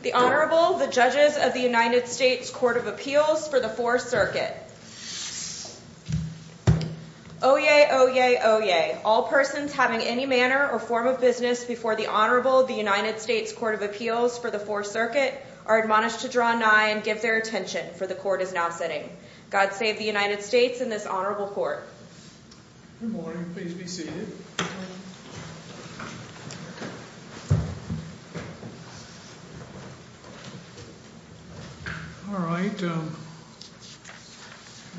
The Honorable, the Judges of the United States Court of Appeals for the Fourth Circuit. Oyez, oyez, oyez. All persons having any manner or form of business before the Honorable of the United States Court of Appeals for the Fourth Circuit are admonished to draw nigh and give their attention, for the Court is now sitting. God save the United States and this Honorable Court. Good morning, please be seated. All right, the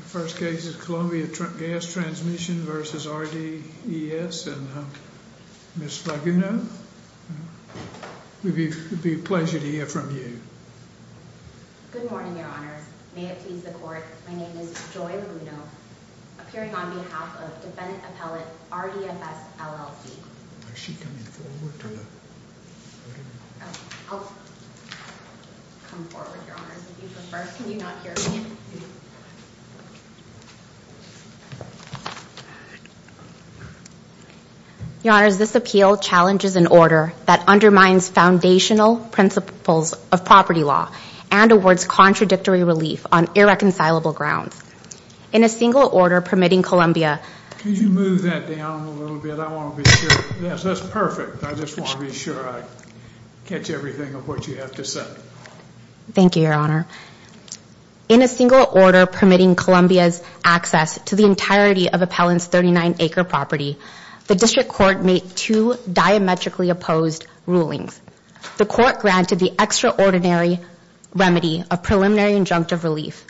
first case is Columbia Gas Transmission v. RDES and Ms. Laguno, it would be a pleasure to hear from you. Good morning, Your Honors. May it please the Court, my name is Joy Laguno, appearing on behalf of Defendant Appellate RDFS, LLC. Is she coming forward to the podium? I'll come forward, Your Honors, if you prefer. Can you not hear me? Your Honors, this appeal challenges an order that undermines foundational principles of property law and awards contradictory relief on irreconcilable grounds. In a single order permitting Columbia Could you move that down a little bit? I want to be sure. Yes, that's perfect. I just want to be sure I catch everything of what you have to say. Thank you, Your Honor. In a single order permitting Columbia's access to the entirety of Appellant's 39-acre property, the District Court made two diametrically opposed rulings. The Court granted the extraordinary remedy of preliminary injunctive relief,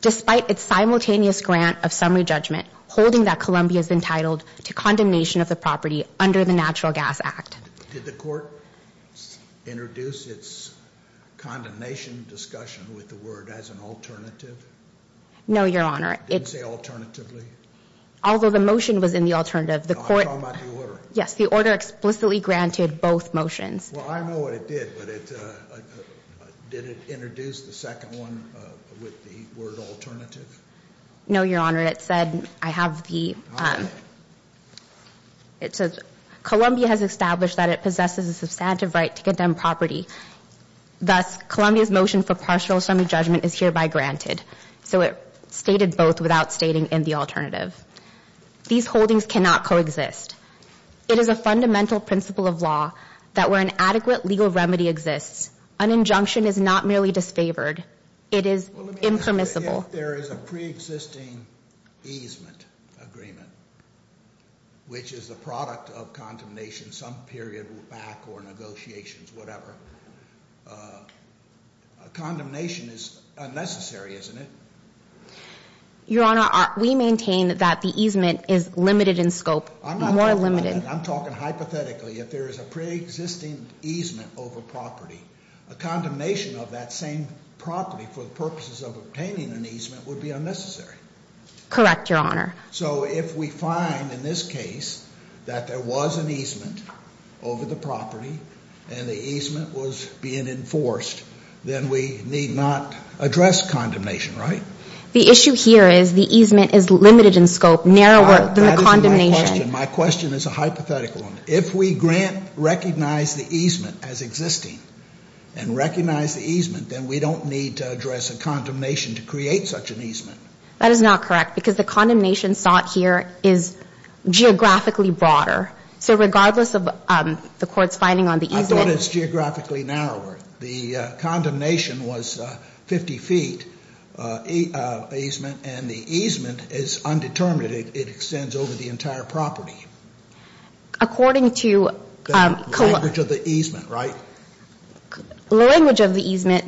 despite its simultaneous grant of summary judgment holding that Columbia is entitled to condemnation of the property under the Natural Gas Act. Did the Court introduce its condemnation discussion with the word as an alternative? No, Your Honor. It didn't say alternatively? Although the motion was in the alternative. No, I'm talking about the order. Yes, the order explicitly granted both motions. Well, I know what it did, but did it introduce the second one with the word alternative? No, Your Honor. It said, I have the, it says, Columbia has established that it possesses a substantive right to condemn property. Thus, Columbia's motion for partial summary judgment is hereby granted. So it stated both without stating in the alternative. These holdings cannot coexist. It is a fundamental principle of law that where an adequate legal remedy exists, an injunction is not merely disfavored. It is impermissible. If there is a pre-existing easement agreement, which is the product of condemnation some period back or negotiations, whatever, condemnation is unnecessary, isn't it? Your Honor, we maintain that the easement is limited in scope, more limited. I'm talking hypothetically. If there is a pre-existing easement over property, a condemnation of that same property for the purposes of obtaining an easement would be unnecessary. Correct, Your Honor. So if we find in this case that there was an easement over the property and the easement was being enforced, then we need not address condemnation, right? The issue here is the easement is limited in scope, narrower than the condemnation. My question is a hypothetical one. If we grant, recognize the easement as existing and recognize the easement, then we don't need to address a condemnation to create such an easement. That is not correct because the condemnation sought here is geographically broader. So regardless of the Court's finding on the easement. I thought it's geographically narrower. The condemnation was 50 feet easement and the easement is undetermined. It extends over the entire property. According to- The language of the easement, right? The language of the easement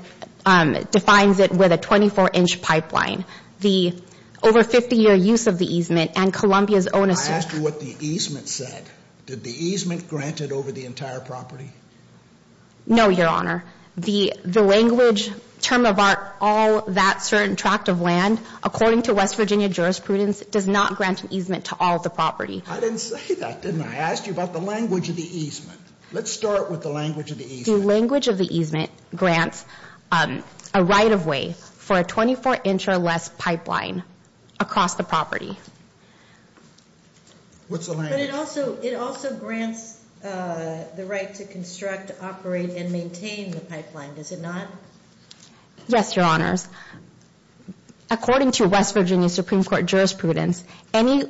defines it with a 24-inch pipeline. The over 50-year use of the easement and Columbia's own assertion- I asked you what the easement said. Did the easement grant it over the entire property? No, Your Honor. The language, term of art, all that certain tract of land, according to West Virginia jurisprudence, does not grant an easement to all the property. I didn't say that, didn't I? I asked you about the language of the easement. Let's start with the language of the easement. The language of the easement grants a right-of-way for a 24-inch or less pipeline across the property. What's the language? But it also grants the right to construct, operate, and maintain the pipeline, does it not? Yes, Your Honors. According to West Virginia Supreme Court jurisprudence, any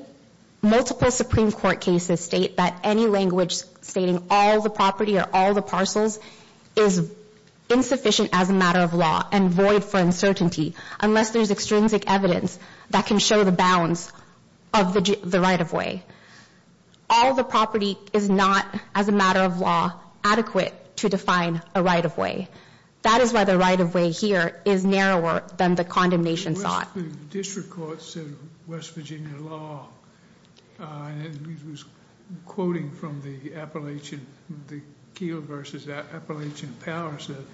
multiple Supreme Court cases state that any language stating all the property or all the parcels is insufficient as a matter of law and void for uncertainty, unless there's extrinsic evidence that can show the bounds of the right-of-way. All the property is not, as a matter of law, adequate to define a right-of-way. That is why the right-of-way here is narrower than the condemnation thought. The district court said in West Virginia law, and it was quoting from the Appalachian, the Keel versus Appalachian Powers, that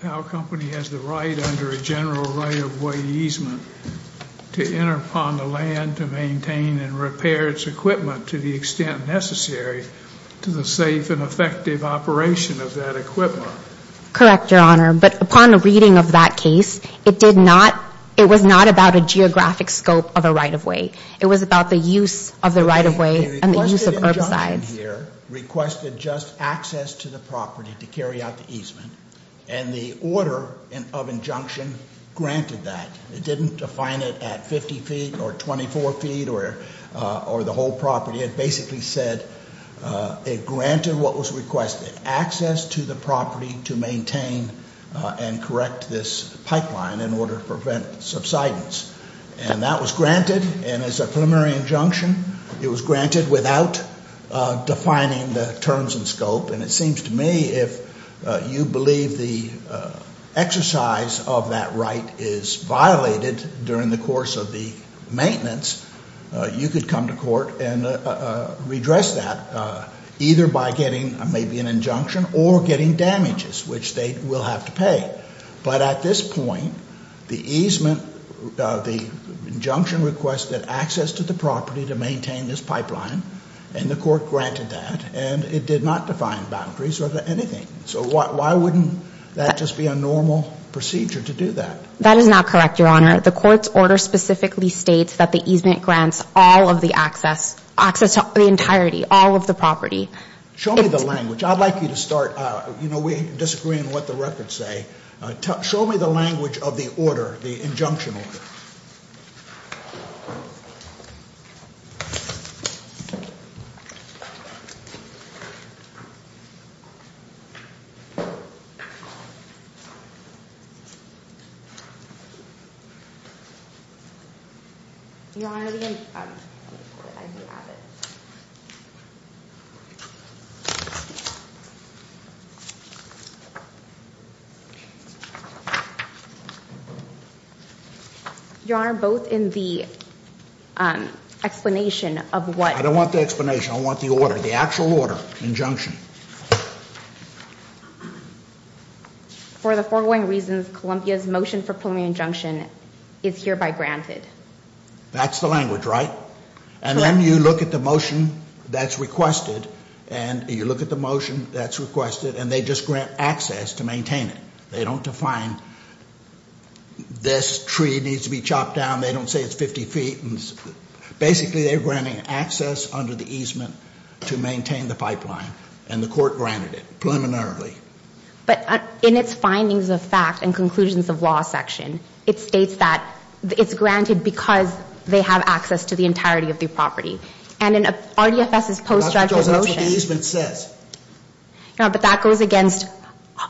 Powell Company has the right under a general right-of-way easement to enter upon the land to maintain and repair its equipment to the extent necessary to the safe and effective operation of that equipment. Correct, Your Honor. But upon the reading of that case, it did not, it was not about a geographic scope of a right-of-way. It was about the use of the right-of-way and the use of herbicides. This gentleman here requested just access to the property to carry out the easement. And the order of injunction granted that. It didn't define it at 50 feet or 24 feet or the whole property. It basically said it granted what was requested, access to the property to maintain and correct this pipeline in order to prevent subsidence. And that was granted. And as a preliminary injunction, it was granted without defining the terms and scope. And it seems to me if you believe the exercise of that right is violated during the course of the maintenance, you could come to court and redress that, either by getting maybe an injunction or getting damages, which they will have to pay. But at this point, the easement, the injunction requested access to the property to maintain this pipeline. And the court granted that. And it did not define boundaries or anything. So why wouldn't that just be a normal procedure to do that? That is not correct, Your Honor. The court's order specifically states that the easement grants all of the access, access to the entirety, all of the property. Show me the language. I'd like you to start. We disagree on what the records say. Show me the language of the order, the injunction order. Your Honor, both in the explanation of what... I don't want the explanation. I want the order, the actual order, injunction. For the foregoing reasons, Columbia's motion for preliminary injunction is hereby granted. That's the language, right? Correct. And then you look at the motion that's requested, and you look at the motion that's requested, and they just grant access to maintain it. They don't define this tree needs to be chopped down. They don't say it's 50 feet. Basically, they're granting access under the easement to maintain the pipeline, and the court granted it preliminarily. But in its findings of fact and conclusions of law section, it states that it's granted because they have access to the entirety of the property. And in RDFS's post-judgmental motion... That's what the easement says. No, but that goes against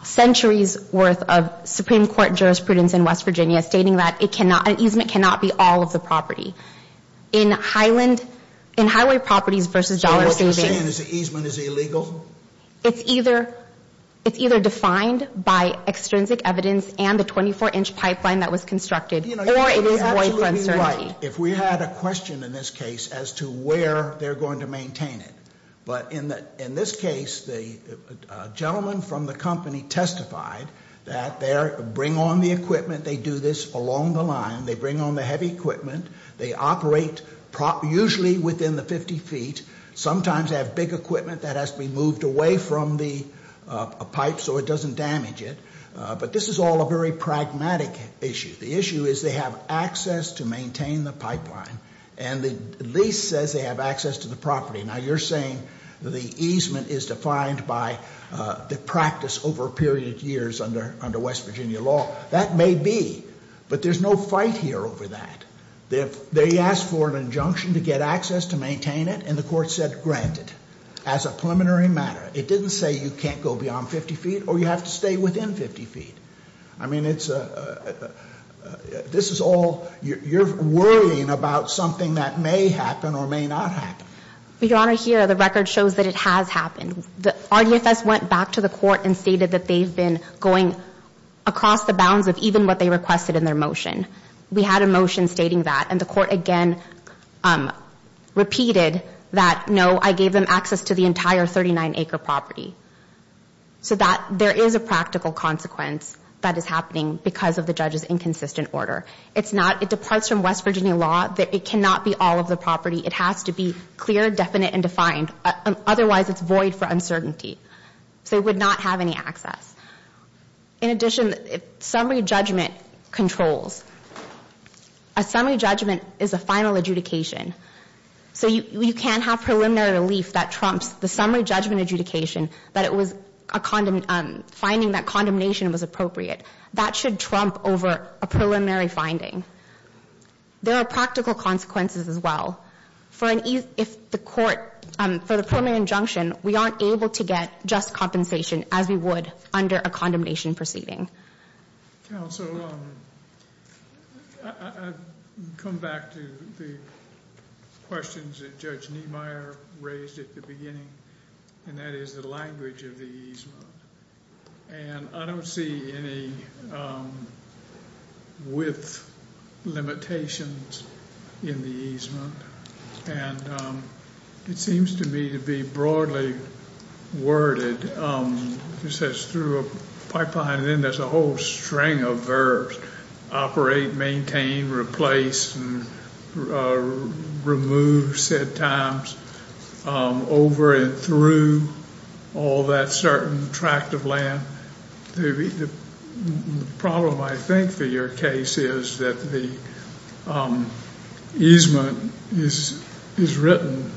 centuries' worth of Supreme Court jurisprudence in West Virginia stating that it cannot, an easement cannot be all of the property. In Highland, in highway properties versus dollar savings... So what you're saying is the easement is illegal? It's either defined by extrinsic evidence and the 24-inch pipeline that was constructed, or it is boycott certainty. You know, you would be absolutely right if we had a question in this case as to where they're going to maintain it. But in this case, the gentleman from the company testified that they bring on the equipment, they do this along the line. They bring on the heavy equipment. They operate usually within the 50 feet. Sometimes they have big equipment that has to be moved away from the pipe so it doesn't damage it. But this is all a very pragmatic issue. The issue is they have access to maintain the pipeline, and the lease says they have access to the property. Now, you're saying the easement is defined by the practice over a period of years under West Virginia law. That may be, but there's no fight here over that. They asked for an injunction to get access to maintain it, and the court said granted. As a preliminary matter, it didn't say you can't go beyond 50 feet or you have to stay within 50 feet. I mean, this is all, you're worrying about something that may happen or may not happen. Your Honor, here the record shows that it has happened. RDFS went back to the court and stated that they've been going across the bounds of even what they requested in their motion. We had a motion stating that, and the court again repeated that, no, I gave them access to the entire 39-acre property. So that, there is a practical consequence that is happening because of the judge's inconsistent order. It's not, it departs from West Virginia law that it cannot be all of the property. It has to be clear, definite, and defined. Otherwise, it's void for uncertainty. So it would not have any access. In addition, summary judgment controls. A summary judgment is a final adjudication. So you can't have preliminary relief that trumps the summary judgment adjudication that it was a finding that condemnation was appropriate. That should trump over a preliminary finding. There are practical consequences as well. If the court, for the preliminary injunction, we aren't able to get just compensation as we would under a condemnation proceeding. Counsel, I come back to the questions that Judge Niemeyer raised at the beginning, and that is the language of the easement. And I don't see any width limitations in the easement. And it seems to me to be broadly worded. It says through a pipeline, and then there's a whole string of verbs. Operate, maintain, replace, and remove said times over and through all that certain tract of land. The problem, I think, for your case is that the easement is written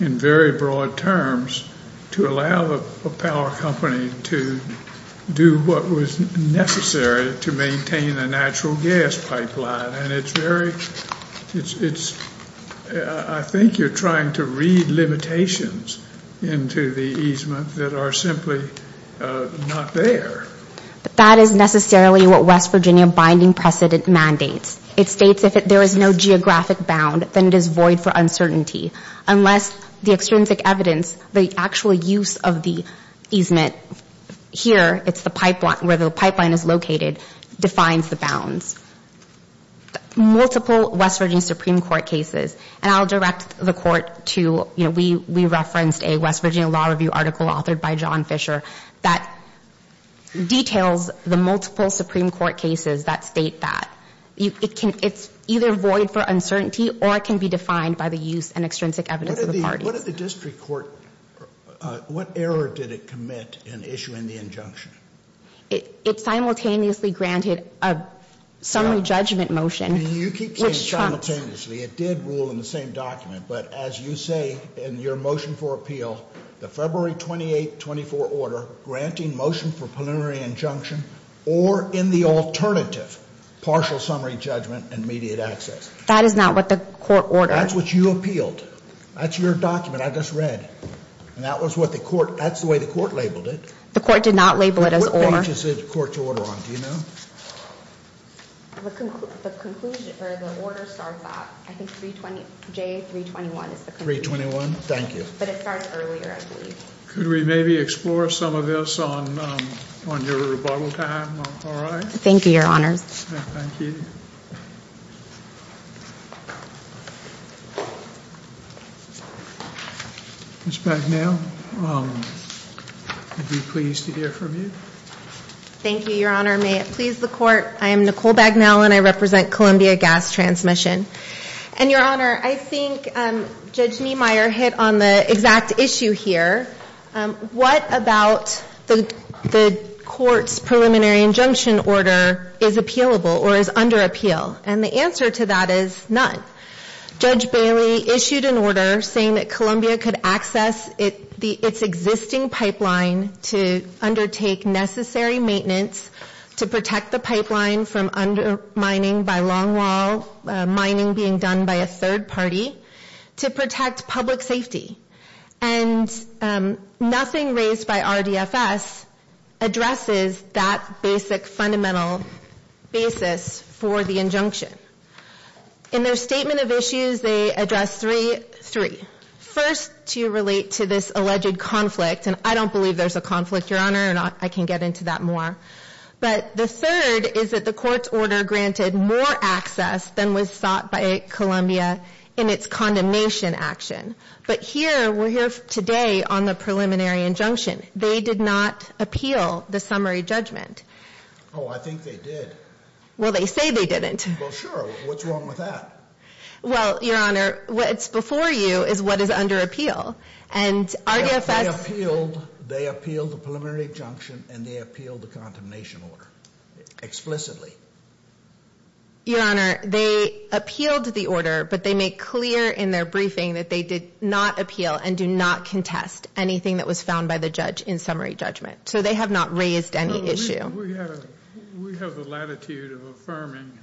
in very broad terms to allow a power company to do what was necessary to maintain a natural gas pipeline. And it's very, it's, I think you're trying to read limitations into the easement that are simply not there. That is necessarily what West Virginia binding precedent mandates. It states if there is no geographic bound, then it is void for uncertainty. Unless the extrinsic evidence, the actual use of the easement here, it's the pipeline, where the pipeline is located, defines the bounds. Multiple West Virginia Supreme Court cases, and I'll direct the court to, you know, we referenced a West Virginia Law Review article authored by John Fisher that details the multiple Supreme Court cases that state that. It can, it's either void for uncertainty or it can be defined by the use and extrinsic evidence of the parties. What did the district court, what error did it commit in issuing the injunction? It simultaneously granted a summary judgment motion. You keep saying simultaneously. It did rule in the same document. But as you say in your motion for appeal, the February 28, 24 order granting motion for preliminary injunction, or in the alternative, partial summary judgment and immediate access. That is not what the court ordered. That's what you appealed. That's your document I just read. And that was what the court, that's the way the court labeled it. The court did not label it as or. What page is the court's order on, do you know? The conclusion, or the order starts out, I think 320, J321 is the conclusion. 321, thank you. But it starts earlier, I believe. Could we maybe explore some of this on your rebuttal time, all right? Thank you, Your Honors. Thank you. Ms. Bagnell, I'd be pleased to hear from you. Thank you, Your Honor. May it please the court, I am Nicole Bagnell, and I represent Columbia Gas Transmission. And, Your Honor, I think Judge Niemeyer hit on the exact issue here. What about the court's preliminary injunction order is appealable or is under appeal? And the answer to that is none. Judge Bailey issued an order saying that Columbia could access its existing pipeline to undertake necessary maintenance to protect the pipeline from undermining by longwall, mining being done by a third party, to protect public safety. And nothing raised by RDFS addresses that basic fundamental basis for the injunction. In their statement of issues, they address three. First, to relate to this alleged conflict, and I don't believe there's a conflict, Your Honor, and I can get into that more. But the third is that the court's order granted more access than was sought by Columbia in its condemnation action. But here, we're here today on the preliminary injunction. They did not appeal the summary judgment. Oh, I think they did. Well, they say they didn't. Well, sure. What's wrong with that? Well, Your Honor, what's before you is what is under appeal. And RDFS They appealed the preliminary injunction and they appealed the condemnation order explicitly. Your Honor, they appealed the order, but they make clear in their briefing that they did not appeal and do not contest anything that was found by the judge in summary judgment. So they have not raised any issue. We have the latitude of affirming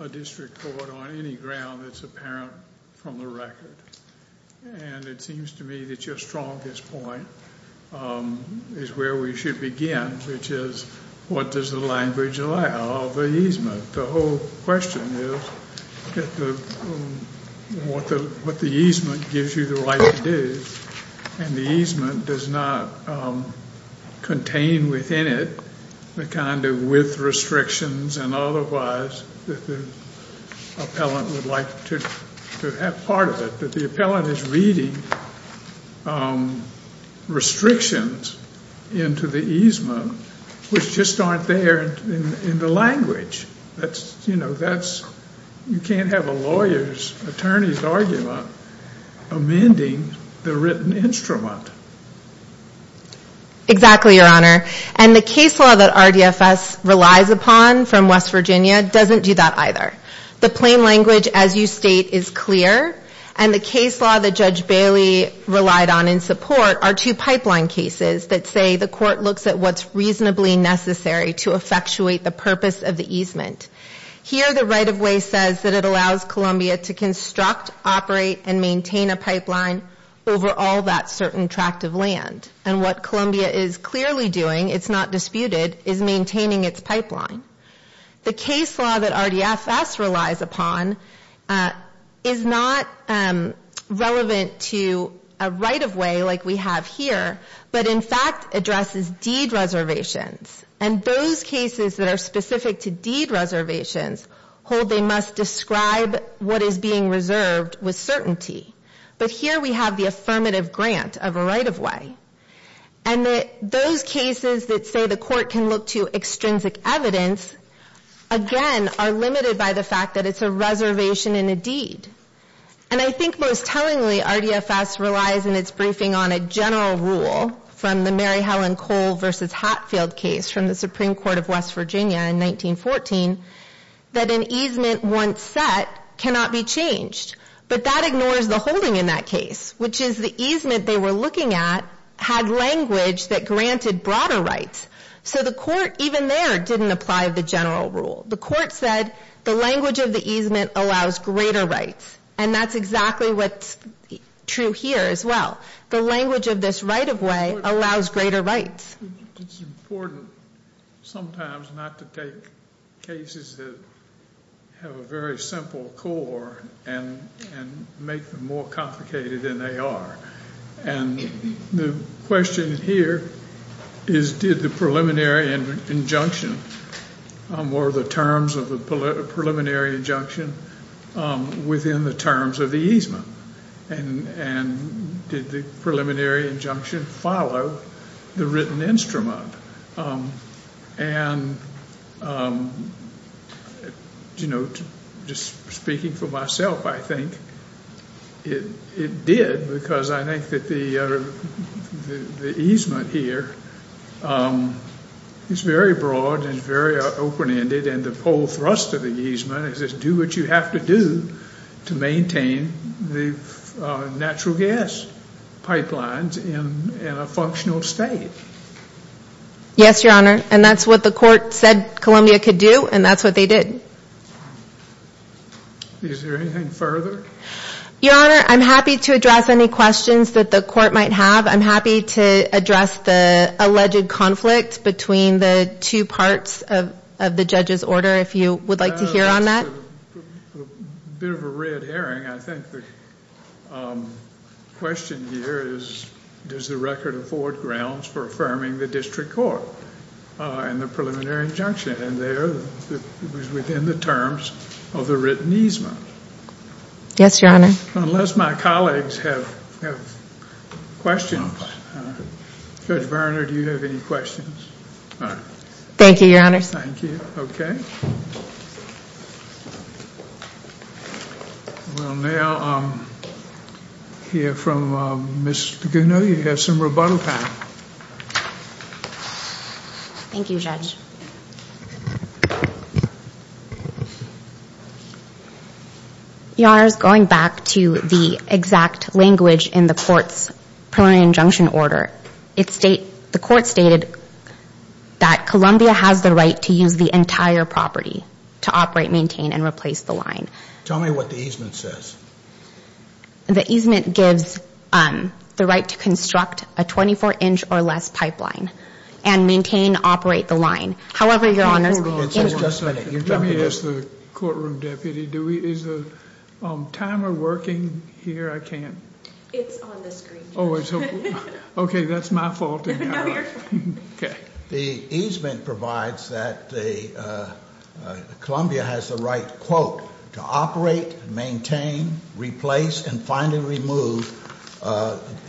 a district court on any ground that's apparent from the record. And it seems to me that your strongest point is where we should begin, which is what does the language allow of the easement? The whole question is what the easement gives you the right to do. And the easement does not contain within it the kind of with restrictions and otherwise that the appellant would like to have part of it. But the appellant is reading restrictions into the easement, which just aren't there in the language. You can't have a lawyer's attorney's argument amending the written instrument. Exactly, Your Honor. And the case law that RDFS relies upon from West Virginia doesn't do that either. The plain language, as you state, is clear. And the case law that Judge Bailey relied on in support are two pipeline cases that say the court looks at what's reasonably necessary to effectuate the purpose of the easement. Here the right-of-way says that it allows Columbia to construct, operate, and maintain a pipeline over all that certain tract of land. And what Columbia is clearly doing, it's not disputed, is maintaining its pipeline. The case law that RDFS relies upon is not relevant to a right-of-way like we have here, but in fact addresses deed reservations. And those cases that are specific to deed reservations hold they must describe what is being reserved with certainty. But here we have the affirmative grant of a right-of-way. And those cases that say the court can look to extrinsic evidence, again, are limited by the fact that it's a reservation in a deed. And I think most tellingly RDFS relies in its briefing on a general rule from the Mary Helen Cole v. Hatfield case from the Supreme Court of West Virginia in 1914 that an easement once set cannot be changed. But that ignores the holding in that case, which is the easement they were looking at had language that granted broader rights. So the court even there didn't apply the general rule. The court said the language of the easement allows greater rights. And that's exactly what's true here as well. The language of this right-of-way allows greater rights. It's important sometimes not to take cases that have a very simple core and make them more complicated than they are. And the question here is did the preliminary injunction or the terms of the preliminary injunction within the terms of the easement? And did the preliminary injunction follow the written instrument? And, you know, just speaking for myself, I think it did because I think that the easement here is very broad and very open-ended. And the whole thrust of the easement is just do what you have to do to maintain the natural gas pipelines in a functional state. Yes, Your Honor, and that's what the court said Columbia could do, and that's what they did. Is there anything further? Your Honor, I'm happy to address any questions that the court might have. I'm happy to address the alleged conflict between the two parts of the judge's order if you would like to hear on that. A bit of a red herring. I think the question here is does the record afford grounds for affirming the district court and the preliminary injunction? And there it was within the terms of the written easement. Yes, Your Honor. Unless my colleagues have questions. Judge Berner, do you have any questions? Thank you, Your Honor. Thank you. We'll now hear from Ms. Gunew. You have some rebuttal time. Thank you, Judge. Your Honor, going back to the exact language in the court's preliminary injunction order, the court stated that Columbia has the right to use the entire property to operate, maintain, and replace the line. Tell me what the easement says. The easement gives the right to construct a 24-inch or less pipeline and maintain, operate the line. However, Your Honor. Just a minute. Let me ask the courtroom deputy. Is the timer working here? I can't. It's on the screen, Judge. Okay, that's my fault. Okay. The easement provides that Columbia has the right, quote, to operate, maintain, replace, and finally remove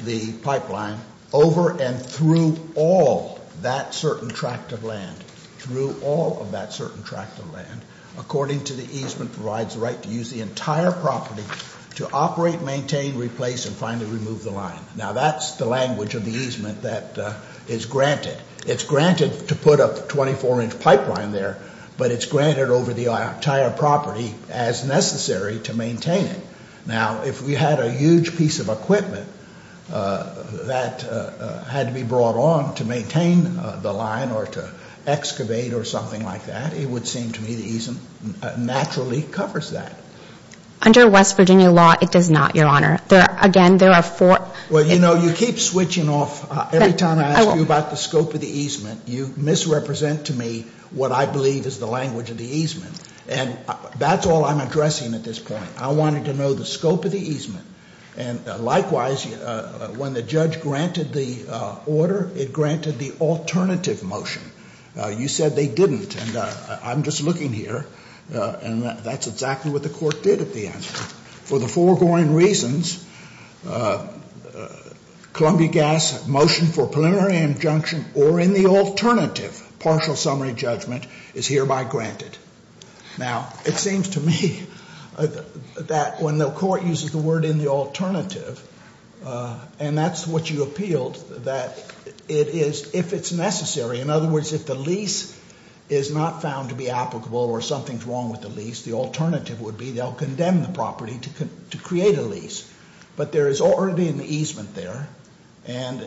the pipeline over and through all that certain tract of land. Through all of that certain tract of land, according to the easement, provides the right to use the entire property to operate, maintain, replace, and finally remove the line. Now, that's the language of the easement that is granted. It's granted to put a 24-inch pipeline there, but it's granted over the entire property as necessary to maintain it. Now, if we had a huge piece of equipment that had to be brought on to maintain the line or to excavate or something like that, it would seem to me the easement naturally covers that. Under West Virginia law, it does not, Your Honor. Again, there are four. Well, you know, you keep switching off. Every time I ask you about the scope of the easement, you misrepresent to me what I believe is the language of the easement. And that's all I'm addressing at this point. I wanted to know the scope of the easement. And likewise, when the judge granted the order, it granted the alternative motion. You said they didn't, and I'm just looking here, and that's exactly what the court did at the answer. For the foregoing reasons, Columbia Gas motion for preliminary injunction or in the alternative partial summary judgment is hereby granted. Now, it seems to me that when the court uses the word in the alternative, and that's what you appealed, that it is if it's necessary. In other words, if the lease is not found to be applicable or something's wrong with the lease, the alternative would be they'll condemn the property to create a lease. But there is already an easement there, and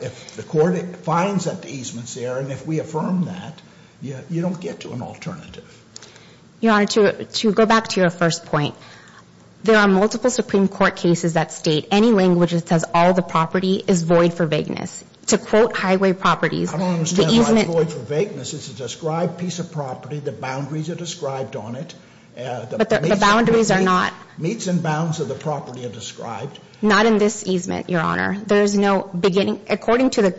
if the court finds that the easement's there, and if we affirm that, you don't get to an alternative. Your Honor, to go back to your first point, there are multiple Supreme Court cases that state any language that says all the property is void for vagueness. To quote Highway Properties, the easement — I don't understand why it's void for vagueness. It's a described piece of property. The boundaries are described on it. But the boundaries are not. Meets and bounds of the property are described. Not in this easement, Your Honor. There is no beginning. According to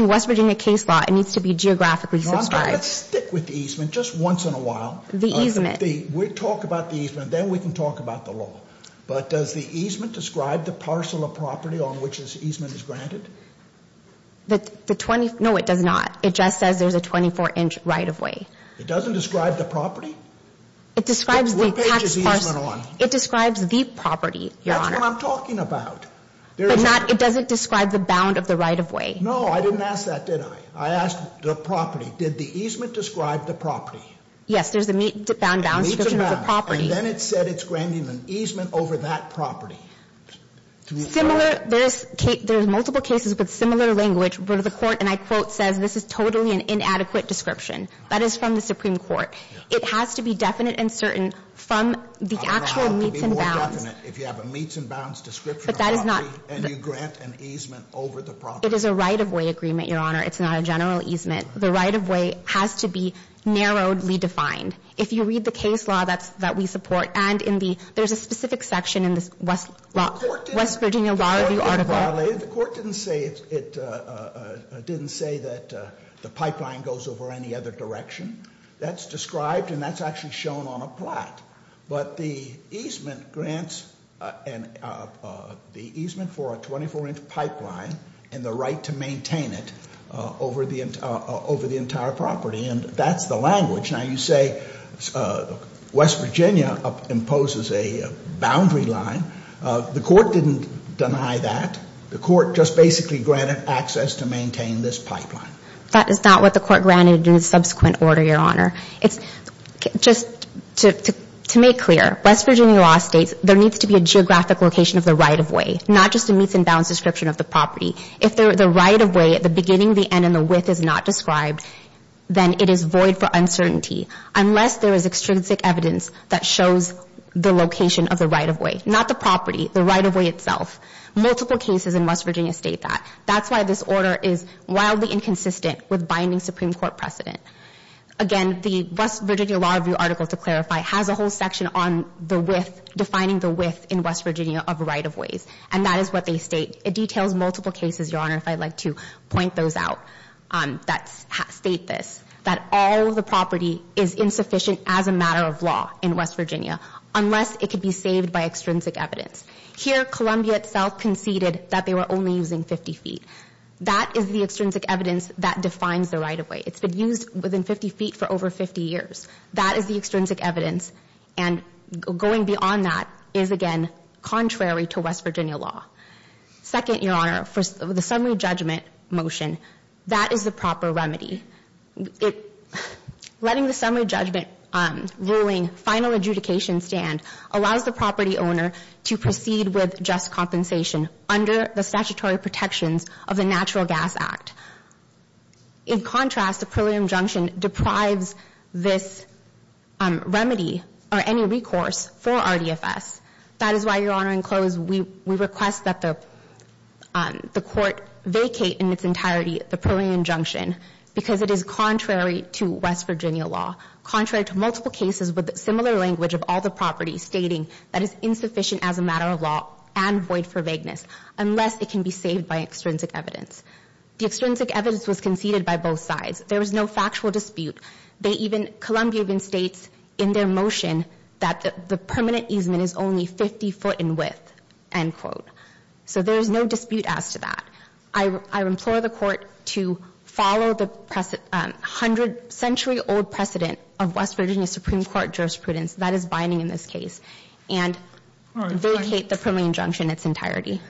West Virginia case law, it needs to be geographically subscribed. I'm going to stick with the easement just once in a while. The easement. We'll talk about the easement. Then we can talk about the law. But does the easement describe the parcel of property on which this easement is granted? No, it does not. It just says there's a 24-inch right-of-way. It doesn't describe the property? What page is easement on? It describes the property, Your Honor. That's what I'm talking about. But it doesn't describe the bound of the right-of-way. No, I didn't ask that, did I? I asked the property. Did the easement describe the property? Yes, there's a meets and bounds description of the property. And then it said it's granting an easement over that property. There's multiple cases with similar language. But the court, and I quote, says this is totally an inadequate description. That is from the Supreme Court. It has to be definite and certain from the actual meets and bounds. It could be more definite if you have a meets and bounds description of the property and you grant an easement over the property. It is a right-of-way agreement, Your Honor. It's not a general easement. The right-of-way has to be narrowly defined. If you read the case law that we support, and there's a specific section in the West Virginia Law Review article. It's violated. The court didn't say that the pipeline goes over any other direction. That's described and that's actually shown on a plot. But the easement grants, the easement for a 24-inch pipeline and the right to maintain it over the entire property, and that's the language. Now you say West Virginia imposes a boundary line. The court didn't deny that. The court just basically granted access to maintain this pipeline. That is not what the court granted in the subsequent order, Your Honor. It's just to make clear, West Virginia law states there needs to be a geographic location of the right-of-way, not just a meets and bounds description of the property. If the right-of-way at the beginning, the end, and the width is not described, then it is void for uncertainty unless there is extrinsic evidence that shows the location of the right-of-way. Not the property, the right-of-way itself. Multiple cases in West Virginia state that. That's why this order is wildly inconsistent with binding Supreme Court precedent. Again, the West Virginia Law Review article, to clarify, has a whole section on the width, defining the width in West Virginia of right-of-ways, and that is what they state. It details multiple cases, Your Honor, if I'd like to point those out that state this, that all of the property is insufficient as a matter of law in West Virginia unless it could be saved by extrinsic evidence. Here, Columbia itself conceded that they were only using 50 feet. That is the extrinsic evidence that defines the right-of-way. It's been used within 50 feet for over 50 years. That is the extrinsic evidence, and going beyond that is, again, contrary to West Virginia law. Second, Your Honor, for the summary judgment motion, that is the proper remedy. Letting the summary judgment ruling final adjudication stand allows the property owner to proceed with just compensation under the statutory protections of the Natural Gas Act. In contrast, the preliminary injunction deprives this remedy or any recourse for RDFS. That is why, Your Honor, in close, we request that the court vacate in its entirety the preliminary injunction because it is contrary to West Virginia law, contrary to multiple cases with similar language of all the properties stating that it's insufficient as a matter of law and void for vagueness unless it can be saved by extrinsic evidence. The extrinsic evidence was conceded by both sides. There was no factual dispute. They even, Columbia even states in their motion that the permanent easement is only 50 foot in width, end quote. So there is no dispute as to that. I implore the court to follow the century-old precedent of West Virginia Supreme Court jurisprudence that is binding in this case and vacate the preliminary injunction in its entirety.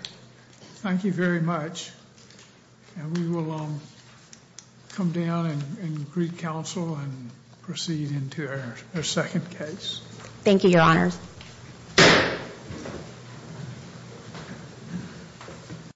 Thank you very much. We will come down and greet counsel and proceed into our second case. Thank you, Your Honor.